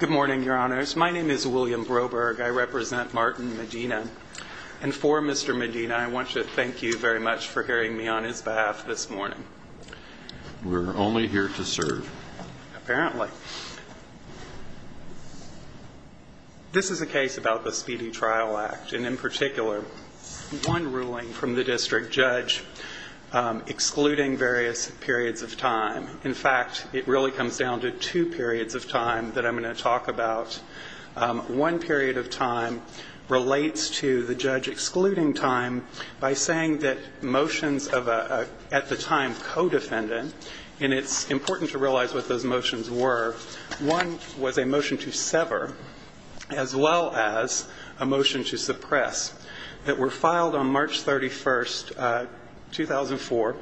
Good morning, your honors. My name is William Broberg. I represent Martin Medina. And for Mr. Medina, I want to thank you very much for hearing me on his behalf this morning. We're only here to serve. Apparently. This is a case about the Speedy Trial Act, and in particular, one ruling from the district judge excluding various periods of time. In fact, it really comes down to two periods of time that I'm going to talk about. One period of time relates to the judge excluding time by saying that motions of a, at the time, co-defendant, and it's important to realize what those motions were. One was a motion to sever as well as a motion to suppress that were filed on March 31st, 2004.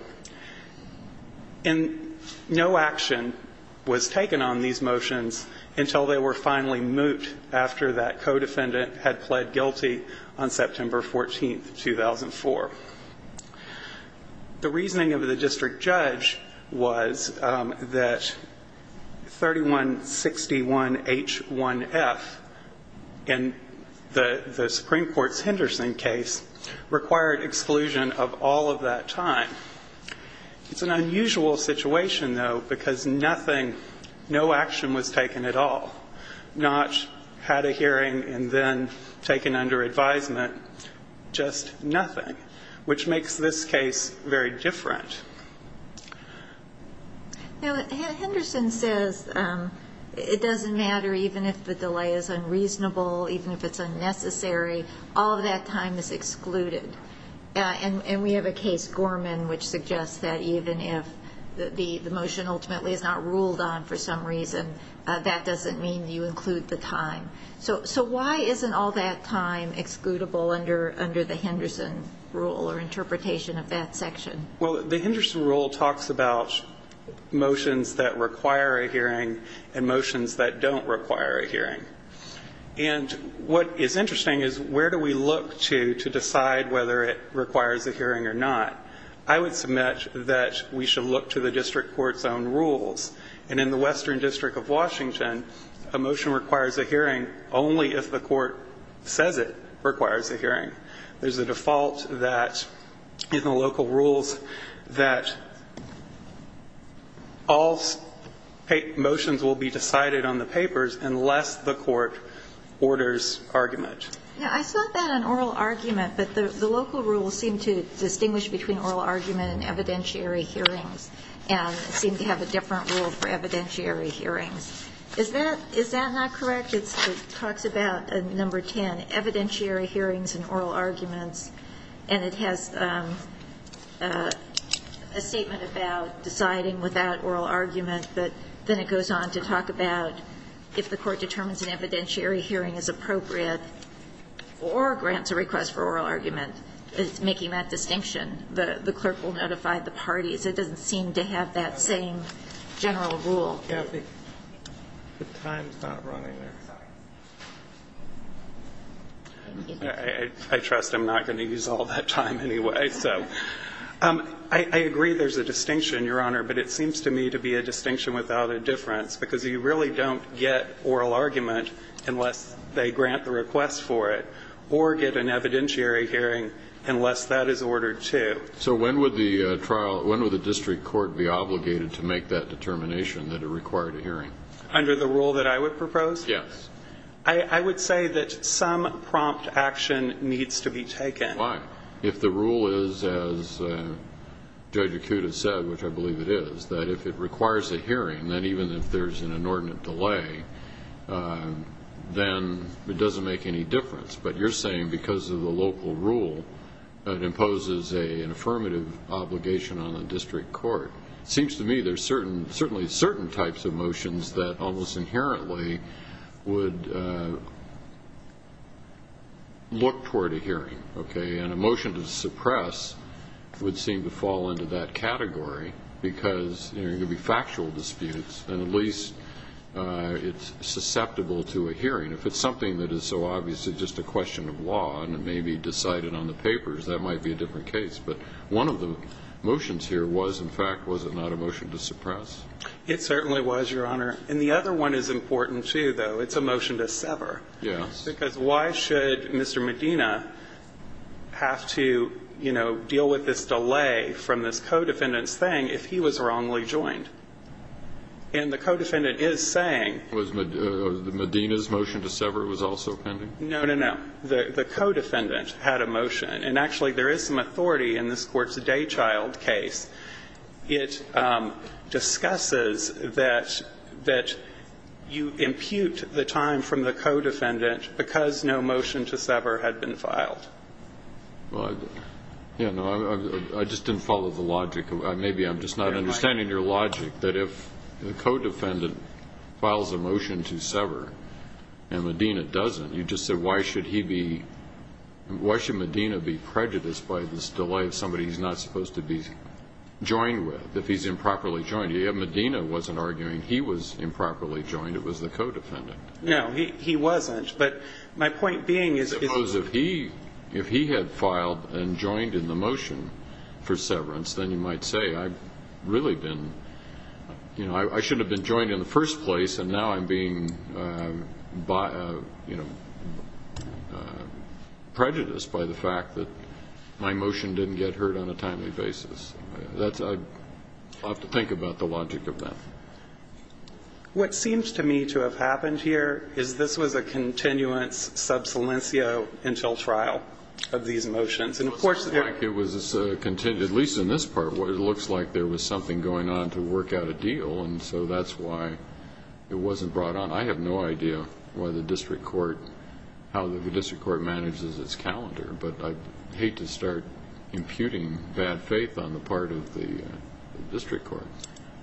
And no action was taken on these motions until they were finally mooted after that co-defendant had pled guilty on September 14th, 2004. The reasoning of the district judge was that 3161H1F in the Supreme Court's Henderson case required exclusion of all of that time. It's an unusual situation, though, because nothing, no action was taken at all. Not had a hearing and then taken under advisement. Just nothing. Which makes this case very different. Now, Henderson says it doesn't matter even if the delay is unreasonable, even if it's unnecessary, all of that time is excluded. And we have a case, Gorman, which suggests that even if the motion ultimately is not ruled on for some reason, that doesn't mean you include the time. So why isn't all that time excludable under the Henderson rule or interpretation of that section? Well, the Henderson rule talks about motions that require a hearing and motions that don't require a hearing. And what is interesting is where do we look to decide whether it requires a hearing or not. I would submit that we should look to the district court's own rules. And in the Western District of Washington, a motion requires a hearing only if the court says it requires a hearing. There's a default that in the local rules that all motions will be decided on the papers unless the court orders argument. Now, I saw that in oral argument. But the local rules seem to distinguish between oral argument and evidentiary hearings and seem to have a different rule for evidentiary hearings. Is that not correct? It talks about number 10, evidentiary hearings and oral arguments, and it has a statement about deciding without oral argument, but then it goes on to talk about if the court or grants a request for oral argument, it's making that distinction. The clerk will notify the parties. It doesn't seem to have that same general rule. Kathy, the time's not running. I trust I'm not going to use all that time anyway. So I agree there's a distinction, Your Honor, but it seems to me to be a distinction without a difference because you really don't get oral argument unless they grant the request for it or get an evidentiary hearing unless that is ordered too. So when would the district court be obligated to make that determination that it required a hearing? Under the rule that I would propose? Yes. I would say that some prompt action needs to be taken. Why? If the rule is, as Judge Acuda said, which I believe it is, that if it requires a hearing, then even if there's an inordinate delay, then it doesn't make any difference. But you're saying because of the local rule, it imposes an affirmative obligation on the district court. It seems to me there's certainly certain types of motions that almost inherently would look toward a hearing. And a motion to suppress would seem to fall into that category because there are going to be factual disputes and at least it's susceptible to a hearing. If it's something that is so obviously just a question of law and it may be decided on the papers, that might be a different case. But one of the motions here was, in fact, was it not a motion to suppress? It certainly was, Your Honor. And the other one is important too, though. It's a motion to sever. Yes. Because why should Mr. Medina have to, you know, deal with this delay from this co-defendant's thing if he was wrongly joined? And the co-defendant is saying. Was Medina's motion to sever was also pending? No, no, no. The co-defendant had a motion. And actually there is some authority in this Court's Daychild case. It discusses that you impute the time from the co-defendant because no motion to sever had been filed. Well, I just didn't follow the logic. Maybe I'm just not understanding your logic that if the co-defendant files a motion to sever and Medina doesn't, you just said why should he be, why should Medina be prejudiced by this delay of somebody he's not supposed to be joined with if he's improperly joined? Medina wasn't arguing. He was improperly joined. It was the co-defendant. No, he wasn't. But my point being is if he had filed and joined in the motion for severance, then you might say I've really been, you know, I should have been joined in the first place and now I'm being, you know, prejudiced by the fact that my motion didn't get heard on a timely basis. I'll have to think about the logic of that. What seems to me to have happened here is this was a continuance sub silencio until trial of these motions. It looks like it was, at least in this part, it looks like there was something going on to work out a deal. And so that's why it wasn't brought on. I have no idea why the district court, how the district court manages its calendar. But I'd hate to start imputing bad faith on the part of the district court.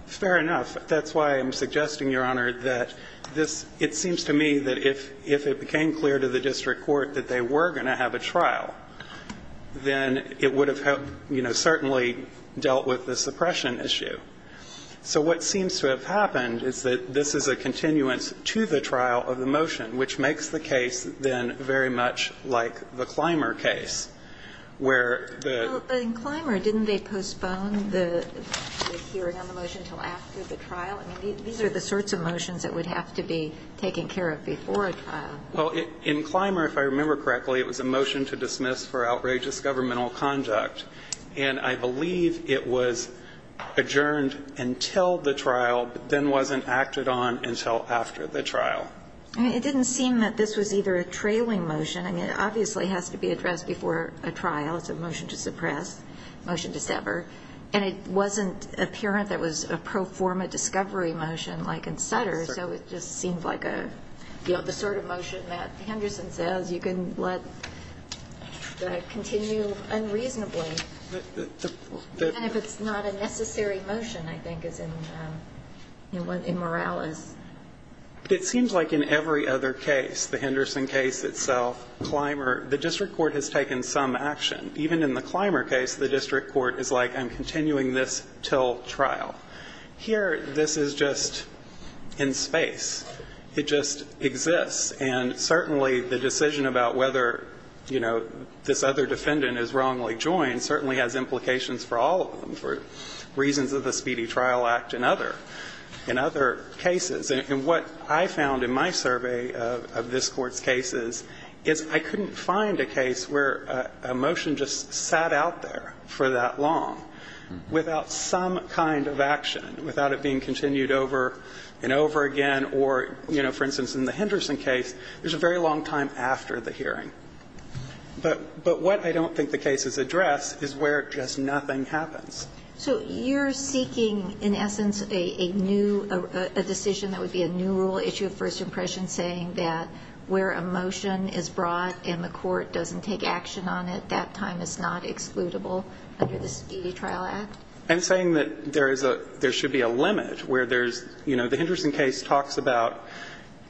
Fair enough. That's why I'm suggesting, Your Honor, that this, it seems to me that if it became clear to the district court that they were going to have a trial, then it would have helped, you know, certainly dealt with the suppression issue. So what seems to have happened is that this is a continuance to the trial of the motion, which makes the case then very much like the Clymer case, where the ---- Well, in Clymer, didn't they postpone the hearing on the motion until after the trial? I mean, these are the sorts of motions that would have to be taken care of before a trial. Well, in Clymer, if I remember correctly, it was a motion to dismiss for outrageous governmental conduct. And I believe it was adjourned until the trial, then wasn't acted on until after the trial. I mean, it didn't seem that this was either a trailing motion. I mean, it obviously has to be addressed before a trial. It's a motion to suppress, motion to sever. And it wasn't apparent that it was a pro forma discovery motion like in Sutter. So it just seems like a, you know, the sort of motion that Henderson says you can let continue unreasonably, even if it's not a necessary motion, I think, as in Morales. It seems like in every other case, the Henderson case itself, Clymer, the district court has taken some action. Even in the Clymer case, the district court is like, I'm continuing this until trial. Here, this is just in space. It just exists. And certainly the decision about whether, you know, this other defendant is wrongly joined certainly has implications for all of them, for reasons of the Speedy Trial Act and other, in other cases. And what I found in my survey of this Court's cases is I couldn't find a case where a motion just sat out there for that long without some kind of action, without it being continued over and over again. Or, you know, for instance, in the Henderson case, there's a very long time after the hearing. But what I don't think the cases address is where just nothing happens. So you're seeking, in essence, a new, a decision that would be a new rule issue of first impression, saying that where a motion is brought and the court doesn't take action on it, that time is not excludable under the Speedy Trial Act? I'm saying that there is a, there should be a limit where there's, you know, the Henderson case talks about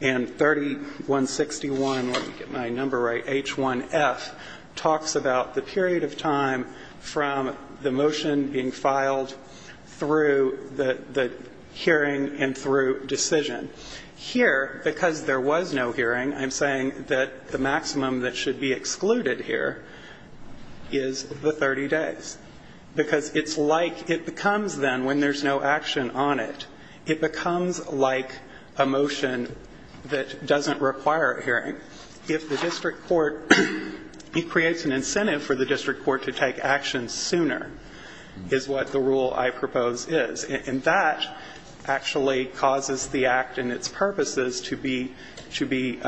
in 3161, let me get my number right, H1F, talks about the period of time from the motion being filed through the hearing and through decision. Here, because there was no hearing, I'm saying that the maximum that should be excluded here is the 30 days. Because it's like, it becomes then, when there's no action on it, it becomes like a motion that doesn't require a hearing. If the district court, it creates an incentive for the district court to take action sooner, is what the rule I propose is. And that actually causes the act and its purposes to be, to be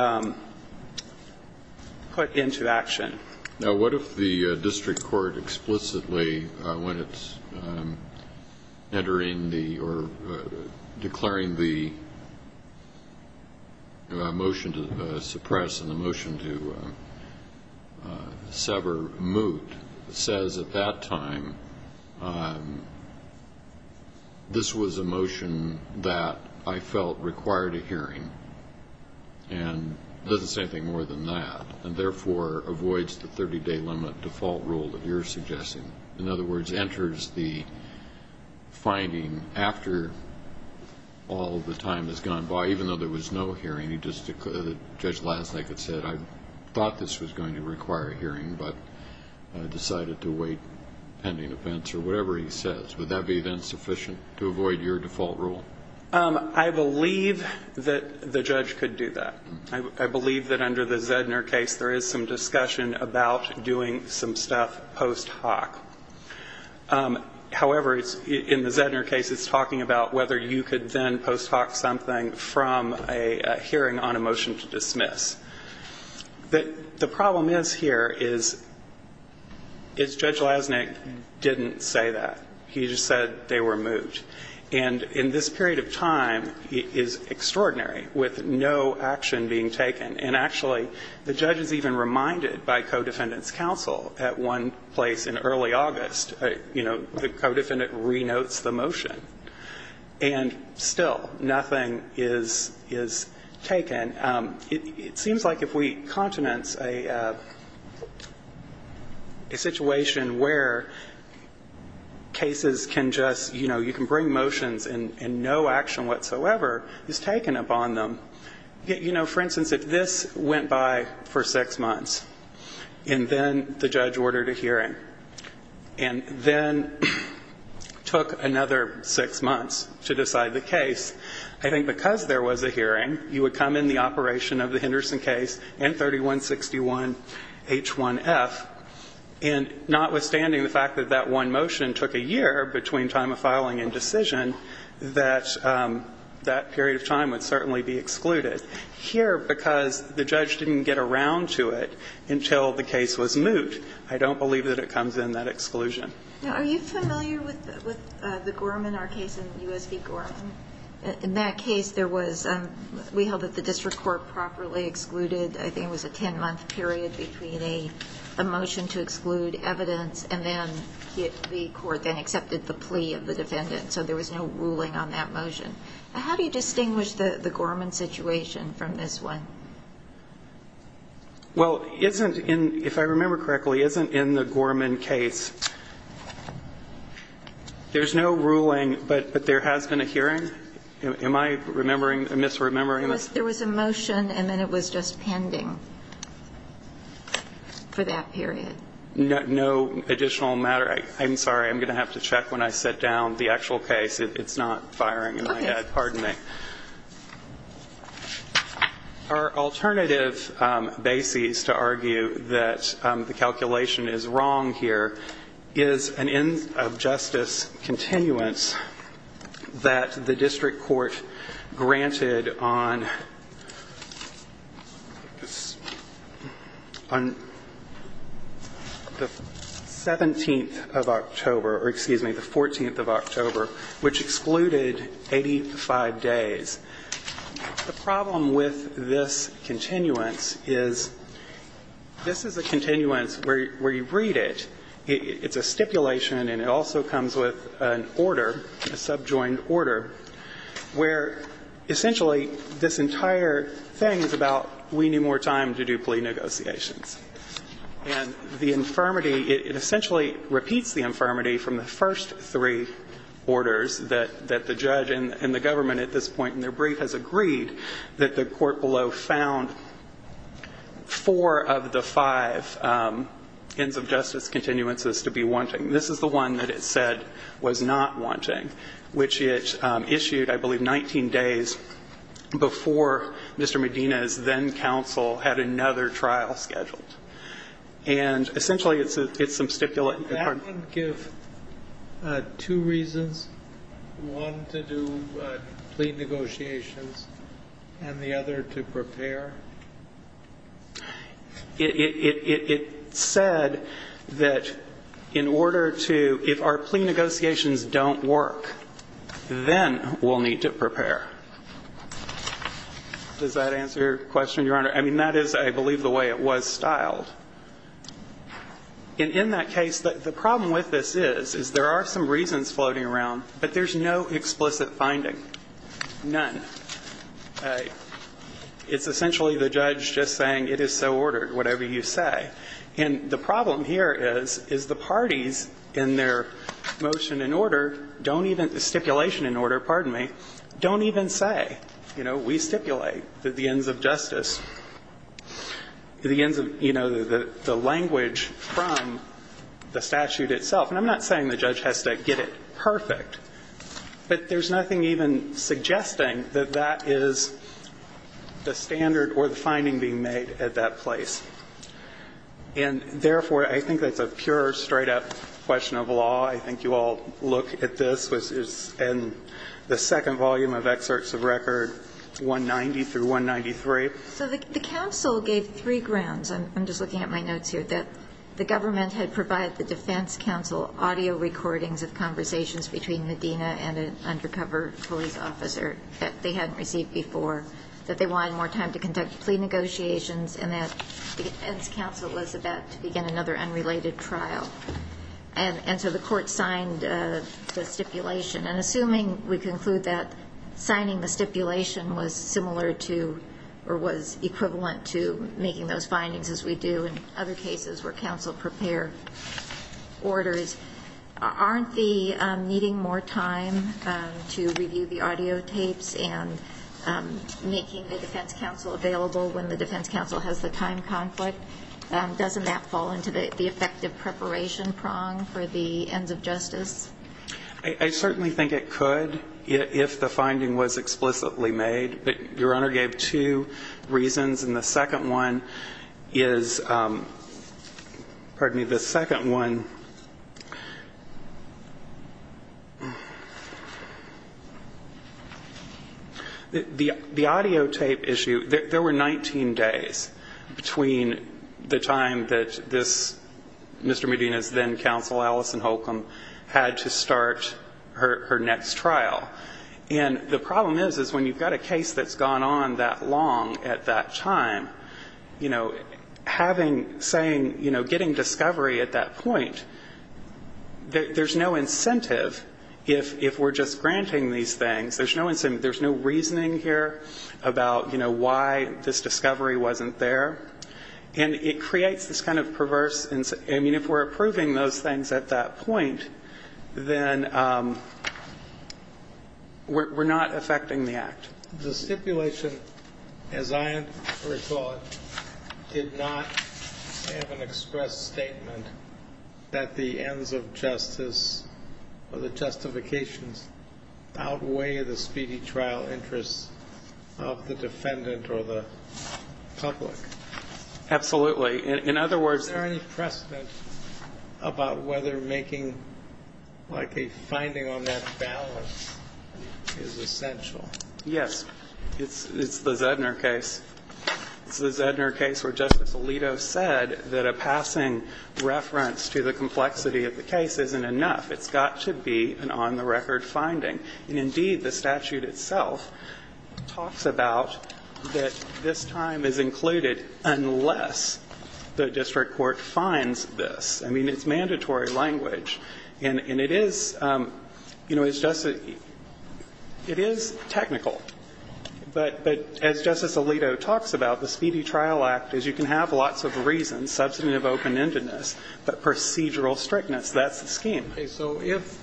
put into action. Now, what if the district court explicitly, when it's entering the, or declaring the motion to suppress and the motion to sever moot, says at that time, this was a motion that I felt required a hearing. And doesn't say anything more than that. And therefore, avoids the 30 day limit default rule that you're suggesting. In other words, enters the finding after all the time has gone by, even though there was no hearing, the judge last night had said, I thought this was going to Would that be then sufficient to avoid your default rule? I believe that the judge could do that. I believe that under the Zedner case, there is some discussion about doing some stuff post hoc. However, in the Zedner case, it's talking about whether you could then post hoc something from a hearing on a motion to dismiss. The problem is here is, is Judge Lasnik didn't say that. He just said they were moot. And in this period of time, it is extraordinary, with no action being taken. And actually, the judge is even reminded by co-defendant's counsel at one place in early August, you know, the co-defendant renotes the motion. And still, nothing is taken. And it seems like if we continence a situation where cases can just, you know, you can bring motions and no action whatsoever is taken upon them. You know, for instance, if this went by for six months, and then the judge ordered a hearing, and then took another six months to decide the case, I think because there was a hearing, you would come in the operation of the Henderson case and 3161H1F. And notwithstanding the fact that that one motion took a year between time of filing and decision, that that period of time would certainly be excluded. Here, because the judge didn't get around to it until the case was moot, I don't believe that it comes in that exclusion. Now, are you familiar with the Gorman, our case in U.S. v. Gorman? In that case, there was, we held that the district court properly excluded, I think it was a 10-month period between a motion to exclude evidence, and then the court then accepted the plea of the defendant. So there was no ruling on that motion. How do you distinguish the Gorman situation from this one? Well, isn't in, if I remember correctly, isn't in the Gorman case, there's no ruling, but there has been a hearing? Am I remembering, misremembering this? There was a motion, and then it was just pending for that period. No additional matter. I'm sorry. I'm going to have to check when I sit down the actual case. It's not firing. Pardon me. Our alternative basis to argue that the calculation is wrong here is an end of justice continuance that the district court granted on the 17th of October, or excuse me, the The problem with this continuance is this is a continuance where you read it, it's a stipulation, and it also comes with an order, a subjoined order, where essentially this entire thing is about we need more time to do plea negotiations. And the infirmity, it essentially repeats the infirmity from the first three orders that the judge and the government at this point in their brief has agreed that the court below found four of the five ends of justice continuances to be wanting. This is the one that it said was not wanting, which it issued, I believe, 19 days before Mr. Medina's then counsel had another trial scheduled. And essentially it's some stipulate. That would give two reasons, one to do plea negotiations and the other to prepare. It said that in order to, if our plea negotiations don't work, then we'll need to prepare. Does that answer your question, Your Honor? I mean, that is, I believe, the way it was styled. In that case, the problem with this is, is there are some reasons floating around, but there's no explicit finding, none. It's essentially the judge just saying it is so ordered, whatever you say. And the problem here is, is the parties in their motion in order don't even, stipulation in order, pardon me, don't even say, you know, we stipulate that the ends of justice, the ends of, you know, the language from the statute itself. And I'm not saying the judge has to get it perfect, but there's nothing even suggesting that that is the standard or the finding being made at that place. And therefore, I think that's a pure, straight-up question of law. I think you all look at this, which is in the second volume of excerpts of record 190 through 193. So the counsel gave three grounds, and I'm just looking at my notes here, that the government had provided the defense counsel audio recordings of conversations between Medina and an undercover police officer that they hadn't received before, that they wanted more time to conduct plea negotiations, and that the defense counsel was about to begin another unrelated trial. And so the court signed the stipulation. And assuming we conclude that signing the stipulation was similar to or was equivalent to making those findings, as we do in other cases where counsel prepare orders, aren't the needing more time to review the audio tapes and making the defense counsel available when the defense counsel has the time conflict? Doesn't that fall into the effective preparation prong for the ends of justice? I certainly think it could, if the finding was explicitly made. But Your Honor gave two reasons, and the second one is – pardon me – the second one – the audio tape issue, there were 19 days between the time that this Mr. Medina's then-counsel, Alison Holcomb, had to start her next trial. And the problem is, is when you've got a case that's gone on that long at that time, you know, having, saying, you know, getting discovery at that point, there's no incentive if we're just granting these things. There's no incentive. There's no reasoning here about, you know, why this discovery wasn't there. And it creates this kind of perverse – I mean, if we're approving those things at that point, then we're not affecting the act. The stipulation, as I recall it, did not have an explicit purpose. It was an express statement that the ends of justice or the justifications outweigh the speedy trial interests of the defendant or the public. Absolutely. In other words – Is there any precedent about whether making, like, a finding on that balance is essential? Yes. It's the Zedner case. It's the Zedner case where Justice Alito said that a tossing reference to the complexity of the case isn't enough. It's got to be an on-the-record finding. And indeed, the statute itself talks about that this time is included unless the district court finds this. I mean, it's mandatory language. And it is – you know, it's just – it is technical. But as Justice Alito talks about, the Speedy Trial Act is you can have lots of reasons, substantive open-endedness, but procedural strictness, that's the scheme. Okay. So if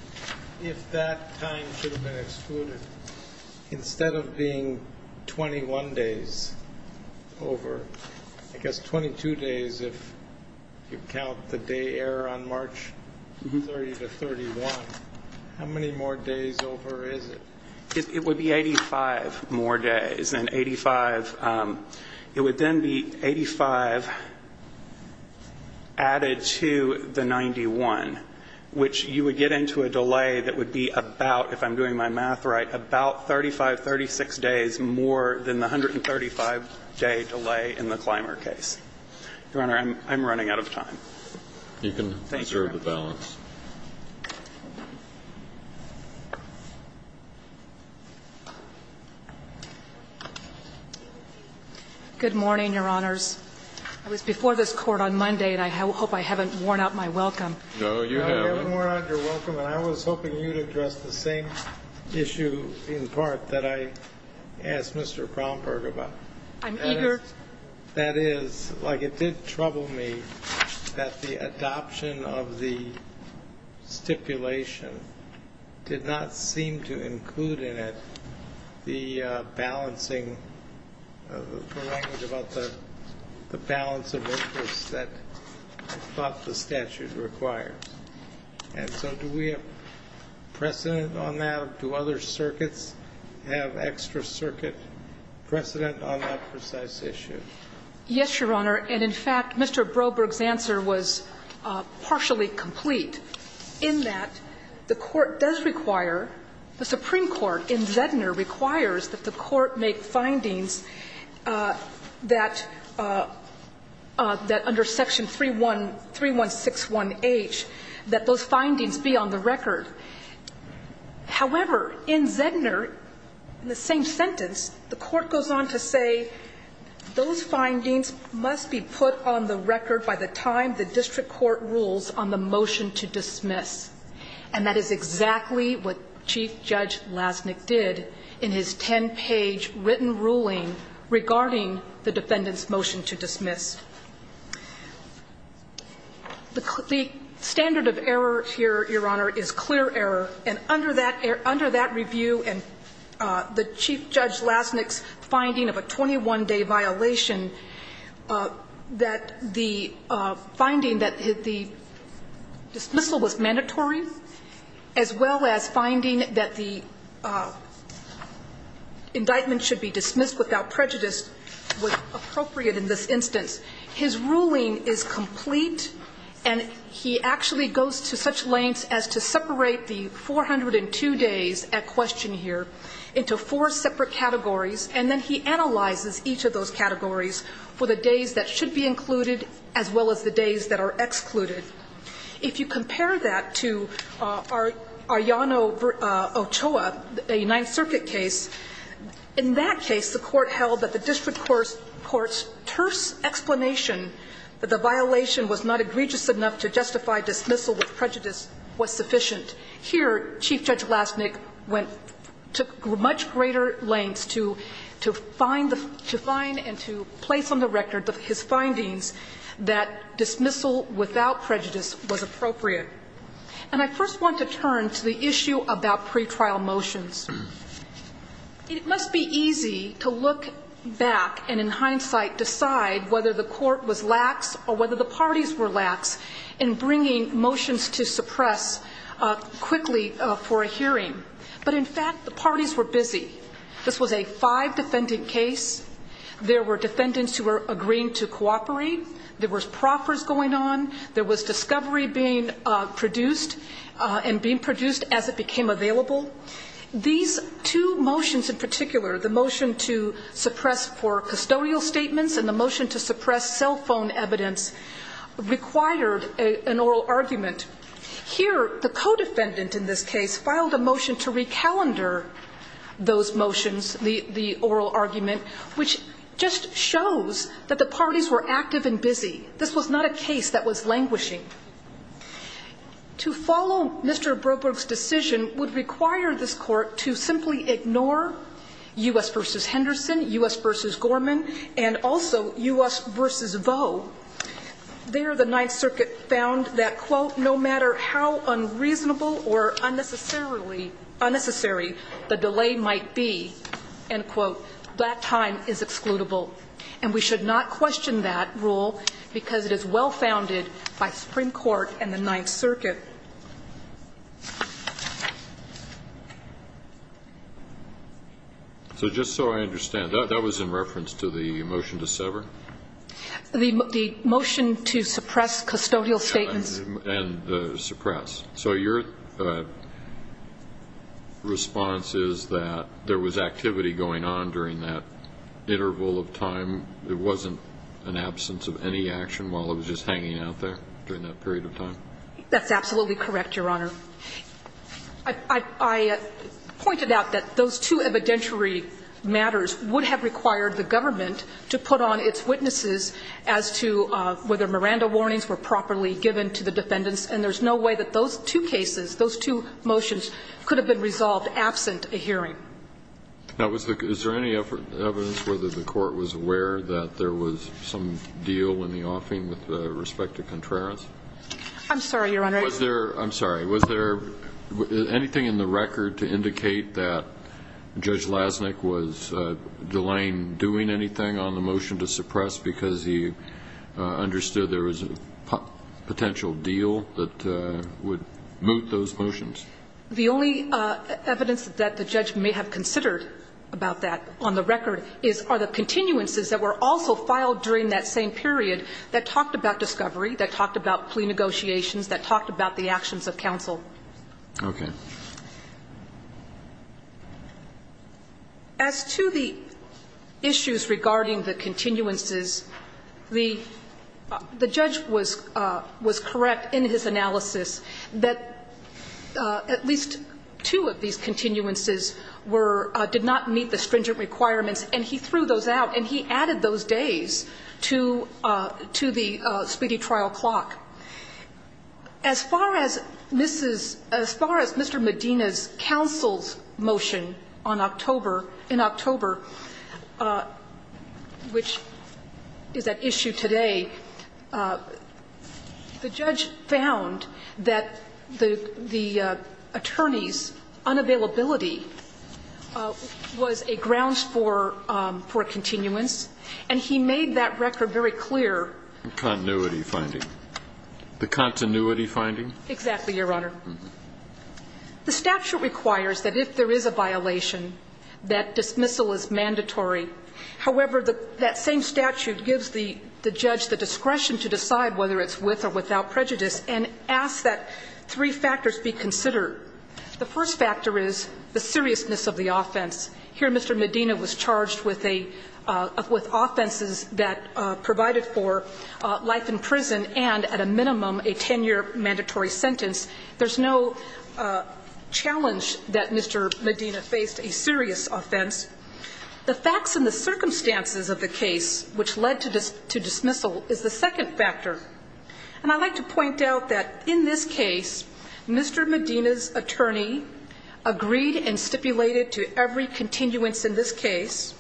that time should have been excluded, instead of being 21 days over, I guess 22 days if you count the day error on March 30 to 31, how many more days over is it? It would be 85 more days. And 85 – it would then be 85 added to the 91, which you would get into a delay that would be about, if I'm doing my math right, about 35, 36 days more than the 135-day delay in the Clymer case. Your Honor, I'm running out of time. You can reserve the balance. Good morning, Your Honors. I was before this Court on Monday, and I hope I haven't worn out my welcome. No, you haven't. No, you haven't worn out your welcome. And I was hoping you would address the same issue in part that I asked Mr. Bromberg about. I'm eager to. That is, like, it did trouble me that the adoption of the – of the statute stipulation did not seem to include in it the balancing – the language about the balance of interest that I thought the statute required. And so do we have precedent on that? Do other circuits have extra circuit precedent on that precise issue? Yes, Your Honor. And in fact, Mr. Bromberg's answer was partially complete in that the Court does require – the Supreme Court in Zedner requires that the Court make findings that – that under section 3161H, that those findings be on the record. However, in Zedner, in the same sentence, the Court goes on to say those findings must be on the record by the time the district court rules on the motion to dismiss. And that is exactly what Chief Judge Lasnik did in his 10-page written ruling regarding the defendant's motion to dismiss. The standard of error here, Your Honor, is clear error. And under that – under that review and the Chief Judge Lasnik's finding of a 21-day violation, that the finding that the dismissal was mandatory as well as finding that the indictment should be dismissed without prejudice was appropriate in this instance. His ruling is complete, and he actually goes to such lengths as to separate the 402 days at question here into four separate categories, and then he analyzes each of those categories for the days that should be included as well as the days that are excluded. If you compare that to Ayano Ochoa, a Ninth Circuit case, in that case, the Court held that the district court's terse explanation that the violation was not egregious enough to justify dismissal with prejudice was sufficient. Here, Chief Judge Lasnik went to much greater lengths to find the – to find and to place on the record his findings that dismissal without prejudice was appropriate. And I first want to turn to the issue about pretrial motions. It must be easy to look back and, in hindsight, decide whether the court was lax or whether the parties were lax in bringing motions to suppress quickly for a hearing. But in fact, the parties were busy. This was a five-defendant case. There were defendants who were agreeing to cooperate. There was proffers going on. There was discovery being produced and being produced as it became available. These two motions in particular, the motion to suppress for custodial statements and the motion to suppress cell phone evidence, required an oral argument. Here, the co-defendant in this case filed a motion to recalendar those motions, the oral argument, which just shows that the parties were active and busy. This was not a case that was languishing. To follow Mr. Broberg's decision would require this Court to simply ignore U.S. v. Henderson, U.S. v. Gorman, and also U.S. v. Vaux. There, the Ninth Circuit found that, quote, no matter how unreasonable or unnecessarily – unnecessary the delay might be, end quote, that time is excludable. And we should not question that rule because it is well-founded by Supreme Court and the Ninth Circuit. So just so I understand, that was in reference to the motion to sever? The motion to suppress custodial statements. And suppress. So your response is that there was activity going on during that period of time? That's absolutely correct, Your Honor. I pointed out that those two evidentiary matters would have required the government to put on its witnesses as to whether Miranda warnings were properly given to the defendants, and there's no way that those two cases, those two motions could have been resolved absent a hearing. Now, is there any evidence whether the Court was aware that there was some deal in the offing with respect to Contreras? I'm sorry, Your Honor. Was there – I'm sorry. Was there anything in the record to indicate that Judge Lasnik was delaying doing anything on the motion to suppress because he understood there was a potential deal that would moot those motions? The only evidence that the judge may have considered about that on the record is, are the continuances that were also filed during that same period that talked about discovery, that talked about plea negotiations, that talked about the actions of counsel. Okay. As to the issues regarding the continuances, the judge was correct in his analysis that at least two of these continuances were – did not meet the stringent requirements, and he threw those out, and he added those days to the speedy trial clock. As far as Mrs. – as far as Mr. Medina's counsel's motion on October, which is at issue today, the judge found that the attorney's unavailability was a grounds for a continuance, and he made that record very clear. The continuity finding. The continuity finding? Exactly, Your Honor. The statute requires that if there is a violation, that dismissal is mandatory. However, that same statute gives the judge the discretion to decide whether it's with or without prejudice and asks that three factors be considered. The first factor is the seriousness of the offense. Here Mr. Medina was charged with a – with offenses that provided for life in prison and, at a minimum, a 10-year mandatory sentence. There's no challenge that Mr. Medina faced a serious offense. The facts and the circumstances of the case which led to dismissal is the second factor, and I'd like to point out that in this case, Mr. Medina's attorney agreed and stipulated to every continuance in this case.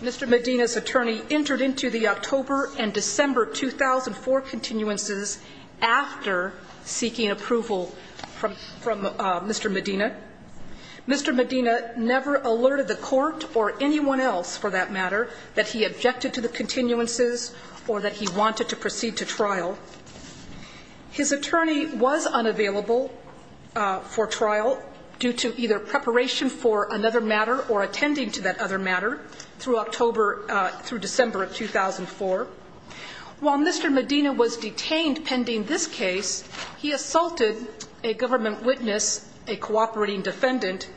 Mr. Medina's attorney entered into the October and December 2004 continuances after seeking approval from – from Mr. Medina. Mr. Medina never alerted the Court or anyone else, for that matter, that he objected to the continuances or that he wanted to proceed to trial. His attorney was unavailable for trial due to either preparation for another matter or attending to that other matter through October – through December of 2004. While Mr. Medina was detained pending this case, he assaulted a government witness, a cooperating defendant.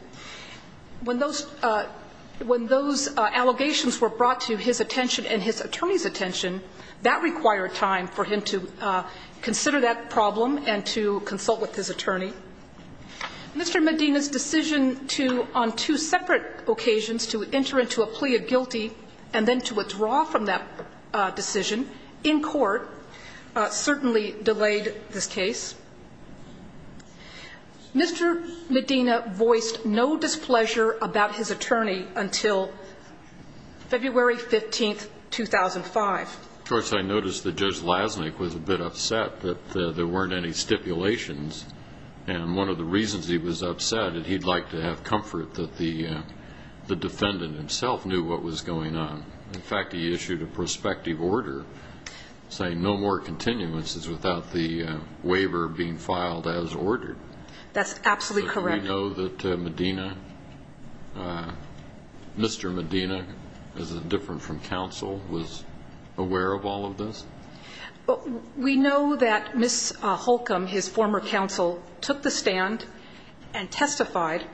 When those – when those allegations were brought to his attention and his attorney's attention, that required time for him to consider that problem and to consult with his attorney. Mr. Medina's decision to, on two separate occasions, to enter into a plea of guilty and then to withdraw from that decision in court certainly delayed this case. Mr. Medina voiced no displeasure about his attorney until February 15th, 2005. Of course, I noticed that Judge Lasnik was a bit upset that there weren't any stipulations and one of the reasons he was upset is he'd like to have comfort that the defendant himself knew what was going on. In fact, he issued a prospective order saying no more continuances without the waiver being filed as ordered. That's absolutely correct. So we know that Medina – Mr. Medina, is it different from counsel, was aware of all of this? We know that Ms. Holcomb, his former counsel, took the stand and testified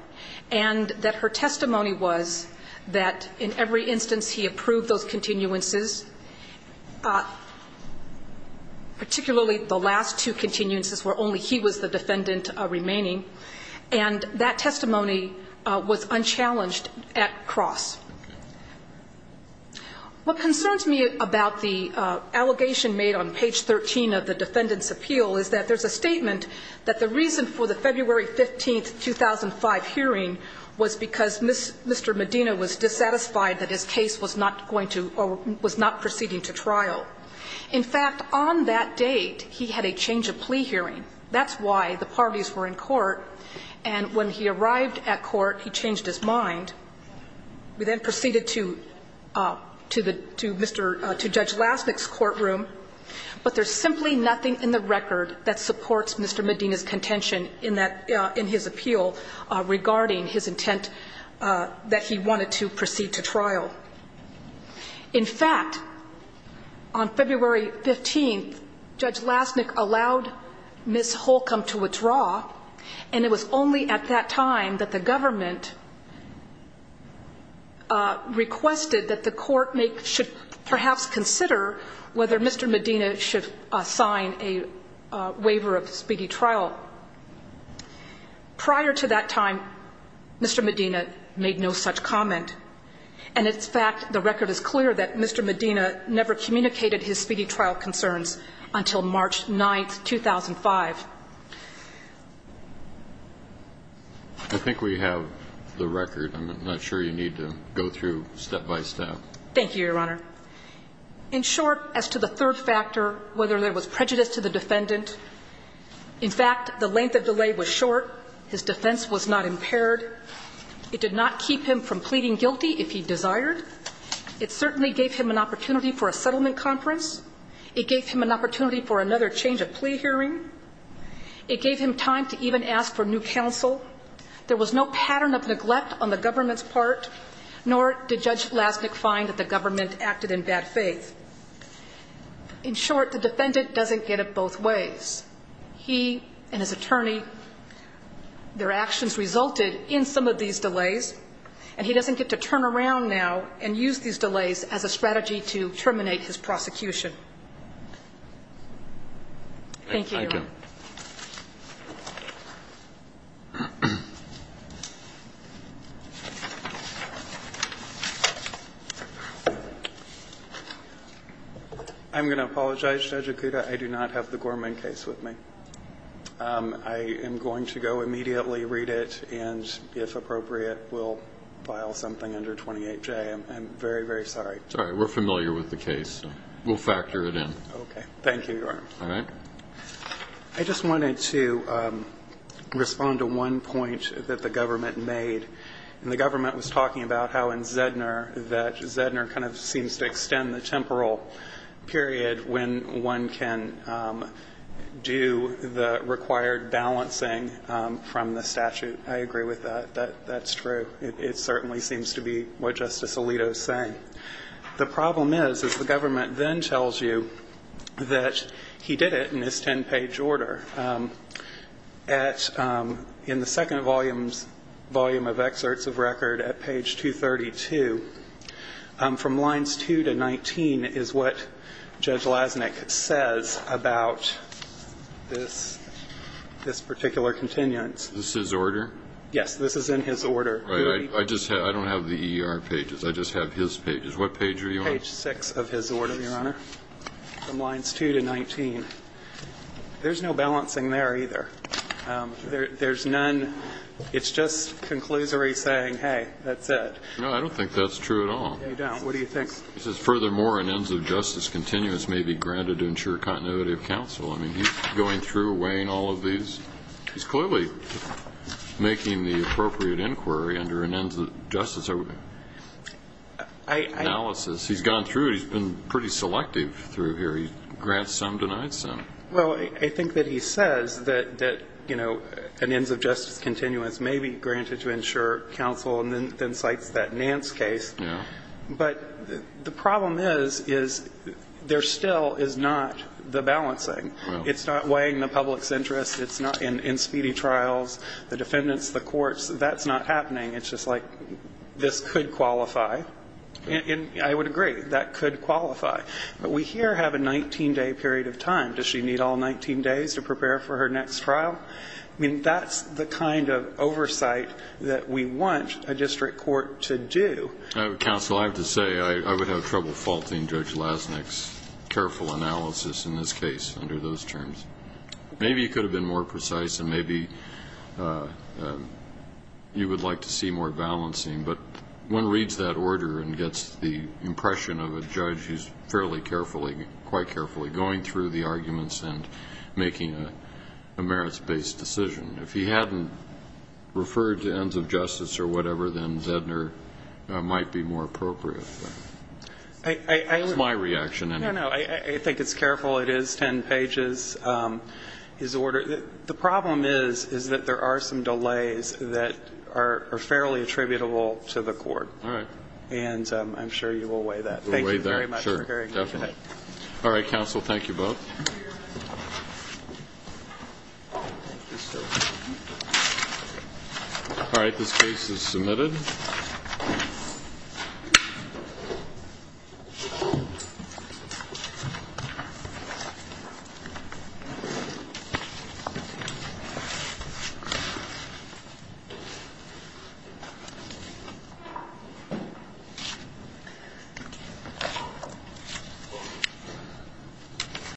and that her testimony was that in every instance he approved those continuances, particularly the last two continuances where only he was the defendant remaining, and that testimony What concerns me about the allegation made on page 13 of the defendant's appeal is that there's a statement that the reason for the February 15th, 2005 hearing was because Mr. Medina was dissatisfied that his case was not going to or was not proceeding to trial. In fact, on that date, he had a change of plea hearing. That's why the parties were in court and when he arrived at court, he changed his mind. We then proceeded to – to the – to Mr. – to Judge Lastnick's courtroom, but there's simply nothing in the record that supports Mr. Medina's contention in that – in his appeal regarding his intent that he wanted to proceed to trial. In fact, on February 15th, Judge Lastnick allowed Ms. Holcomb to withdraw and it was only at that time that the government requested that the court make – should perhaps consider whether Mr. Medina should sign a waiver of speedy trial. Prior to that time, Mr. Medina made no such comment and in fact, the record is clear that Mr. Medina never communicated his speedy trial concerns until March 9th, 2005. I think we have the record. I'm not sure you need to go through step by step. Thank you, Your Honor. In short, as to the third factor, whether there was prejudice to the defendant, in fact, the length of delay was short, his defense was not impaired. It did not keep him from pleading guilty if he desired. It certainly gave him an opportunity for a settlement conference. It gave him an opportunity for another change of plea hearing. It gave him time to even ask for new counsel. There was no pattern of neglect on the government's part, nor did Judge Lastnick find that the government acted in bad faith. In short, the defendant doesn't get it both ways. He and his attorney, their actions resulted in some of these delays and he doesn't get to turn around now and use these delays as a strategy to terminate his prosecution. Thank you, Your Honor. Thank you. I'm going to apologize, Judge Akuta. I do not have the Gorman case with me. I am going to go immediately read it and, if appropriate, we'll file something under 28J. I'm very, very sorry. It's all right. We're familiar with the case. We'll factor it in. Okay. Thank you, Your Honor. All right. I just wanted to respond to one point that the government made, and the government was talking about how in Zedner that Zedner kind of seems to extend the temporal period when one can do the required balancing from the statute. I agree with that. That's true. It certainly seems to be what Justice Alito is saying. The problem is, is the government then tells you that he did it in this ten-page order. At the second volume of excerpts of record at page 232, from lines 2 to 19 is what Judge Lasnik says about this particular continuance. This is order? Yes. This is in his order. I don't have the EER pages. I just have his pages. What page are you on? Page 6 of his order, Your Honor, from lines 2 to 19. There's no balancing there either. There's none. It's just conclusory saying, hey, that's it. No, I don't think that's true at all. You don't? What do you think? It says, furthermore, an ends of justice continuance may be granted to ensure continuity of counsel. I mean, he's going through, weighing all of these. He's clearly making the appropriate inquiry under an ends of justice analysis. He's gone through it. He's been pretty selective through here. He grants some, denies some. Well, I think that he says that, you know, an ends of justice continuance may be granted to ensure counsel and then cites that Nance case. Yeah. But the problem is, is there still is not the balancing. Well. It's not weighing the public's interest. It's not in speedy trials. The defendants, the courts, that's not happening. It's just like this could qualify. And I would agree, that could qualify. But we here have a 19-day period of time. Does she need all 19 days to prepare for her next trial? I mean, that's the kind of oversight that we want a district court to do. Counsel, I have to say, I would have trouble faulting Judge Lasnik's careful analysis in this case under those terms. Maybe he could have been more precise, and maybe you would like to see more balancing. But one reads that order and gets the impression of a judge who's fairly carefully, quite carefully going through the arguments and making a merits-based decision. If he hadn't referred to ends of justice or whatever, then Zedner might be more appropriate. That's my reaction. No, no. I think it's careful. It is ten pages. His order. The problem is, is that there are some delays that are fairly attributable to the court. All right. And I'm sure you will weigh that. Thank you very much for hearing me today. All right, counsel. Thank you both. All right. This case is submitted.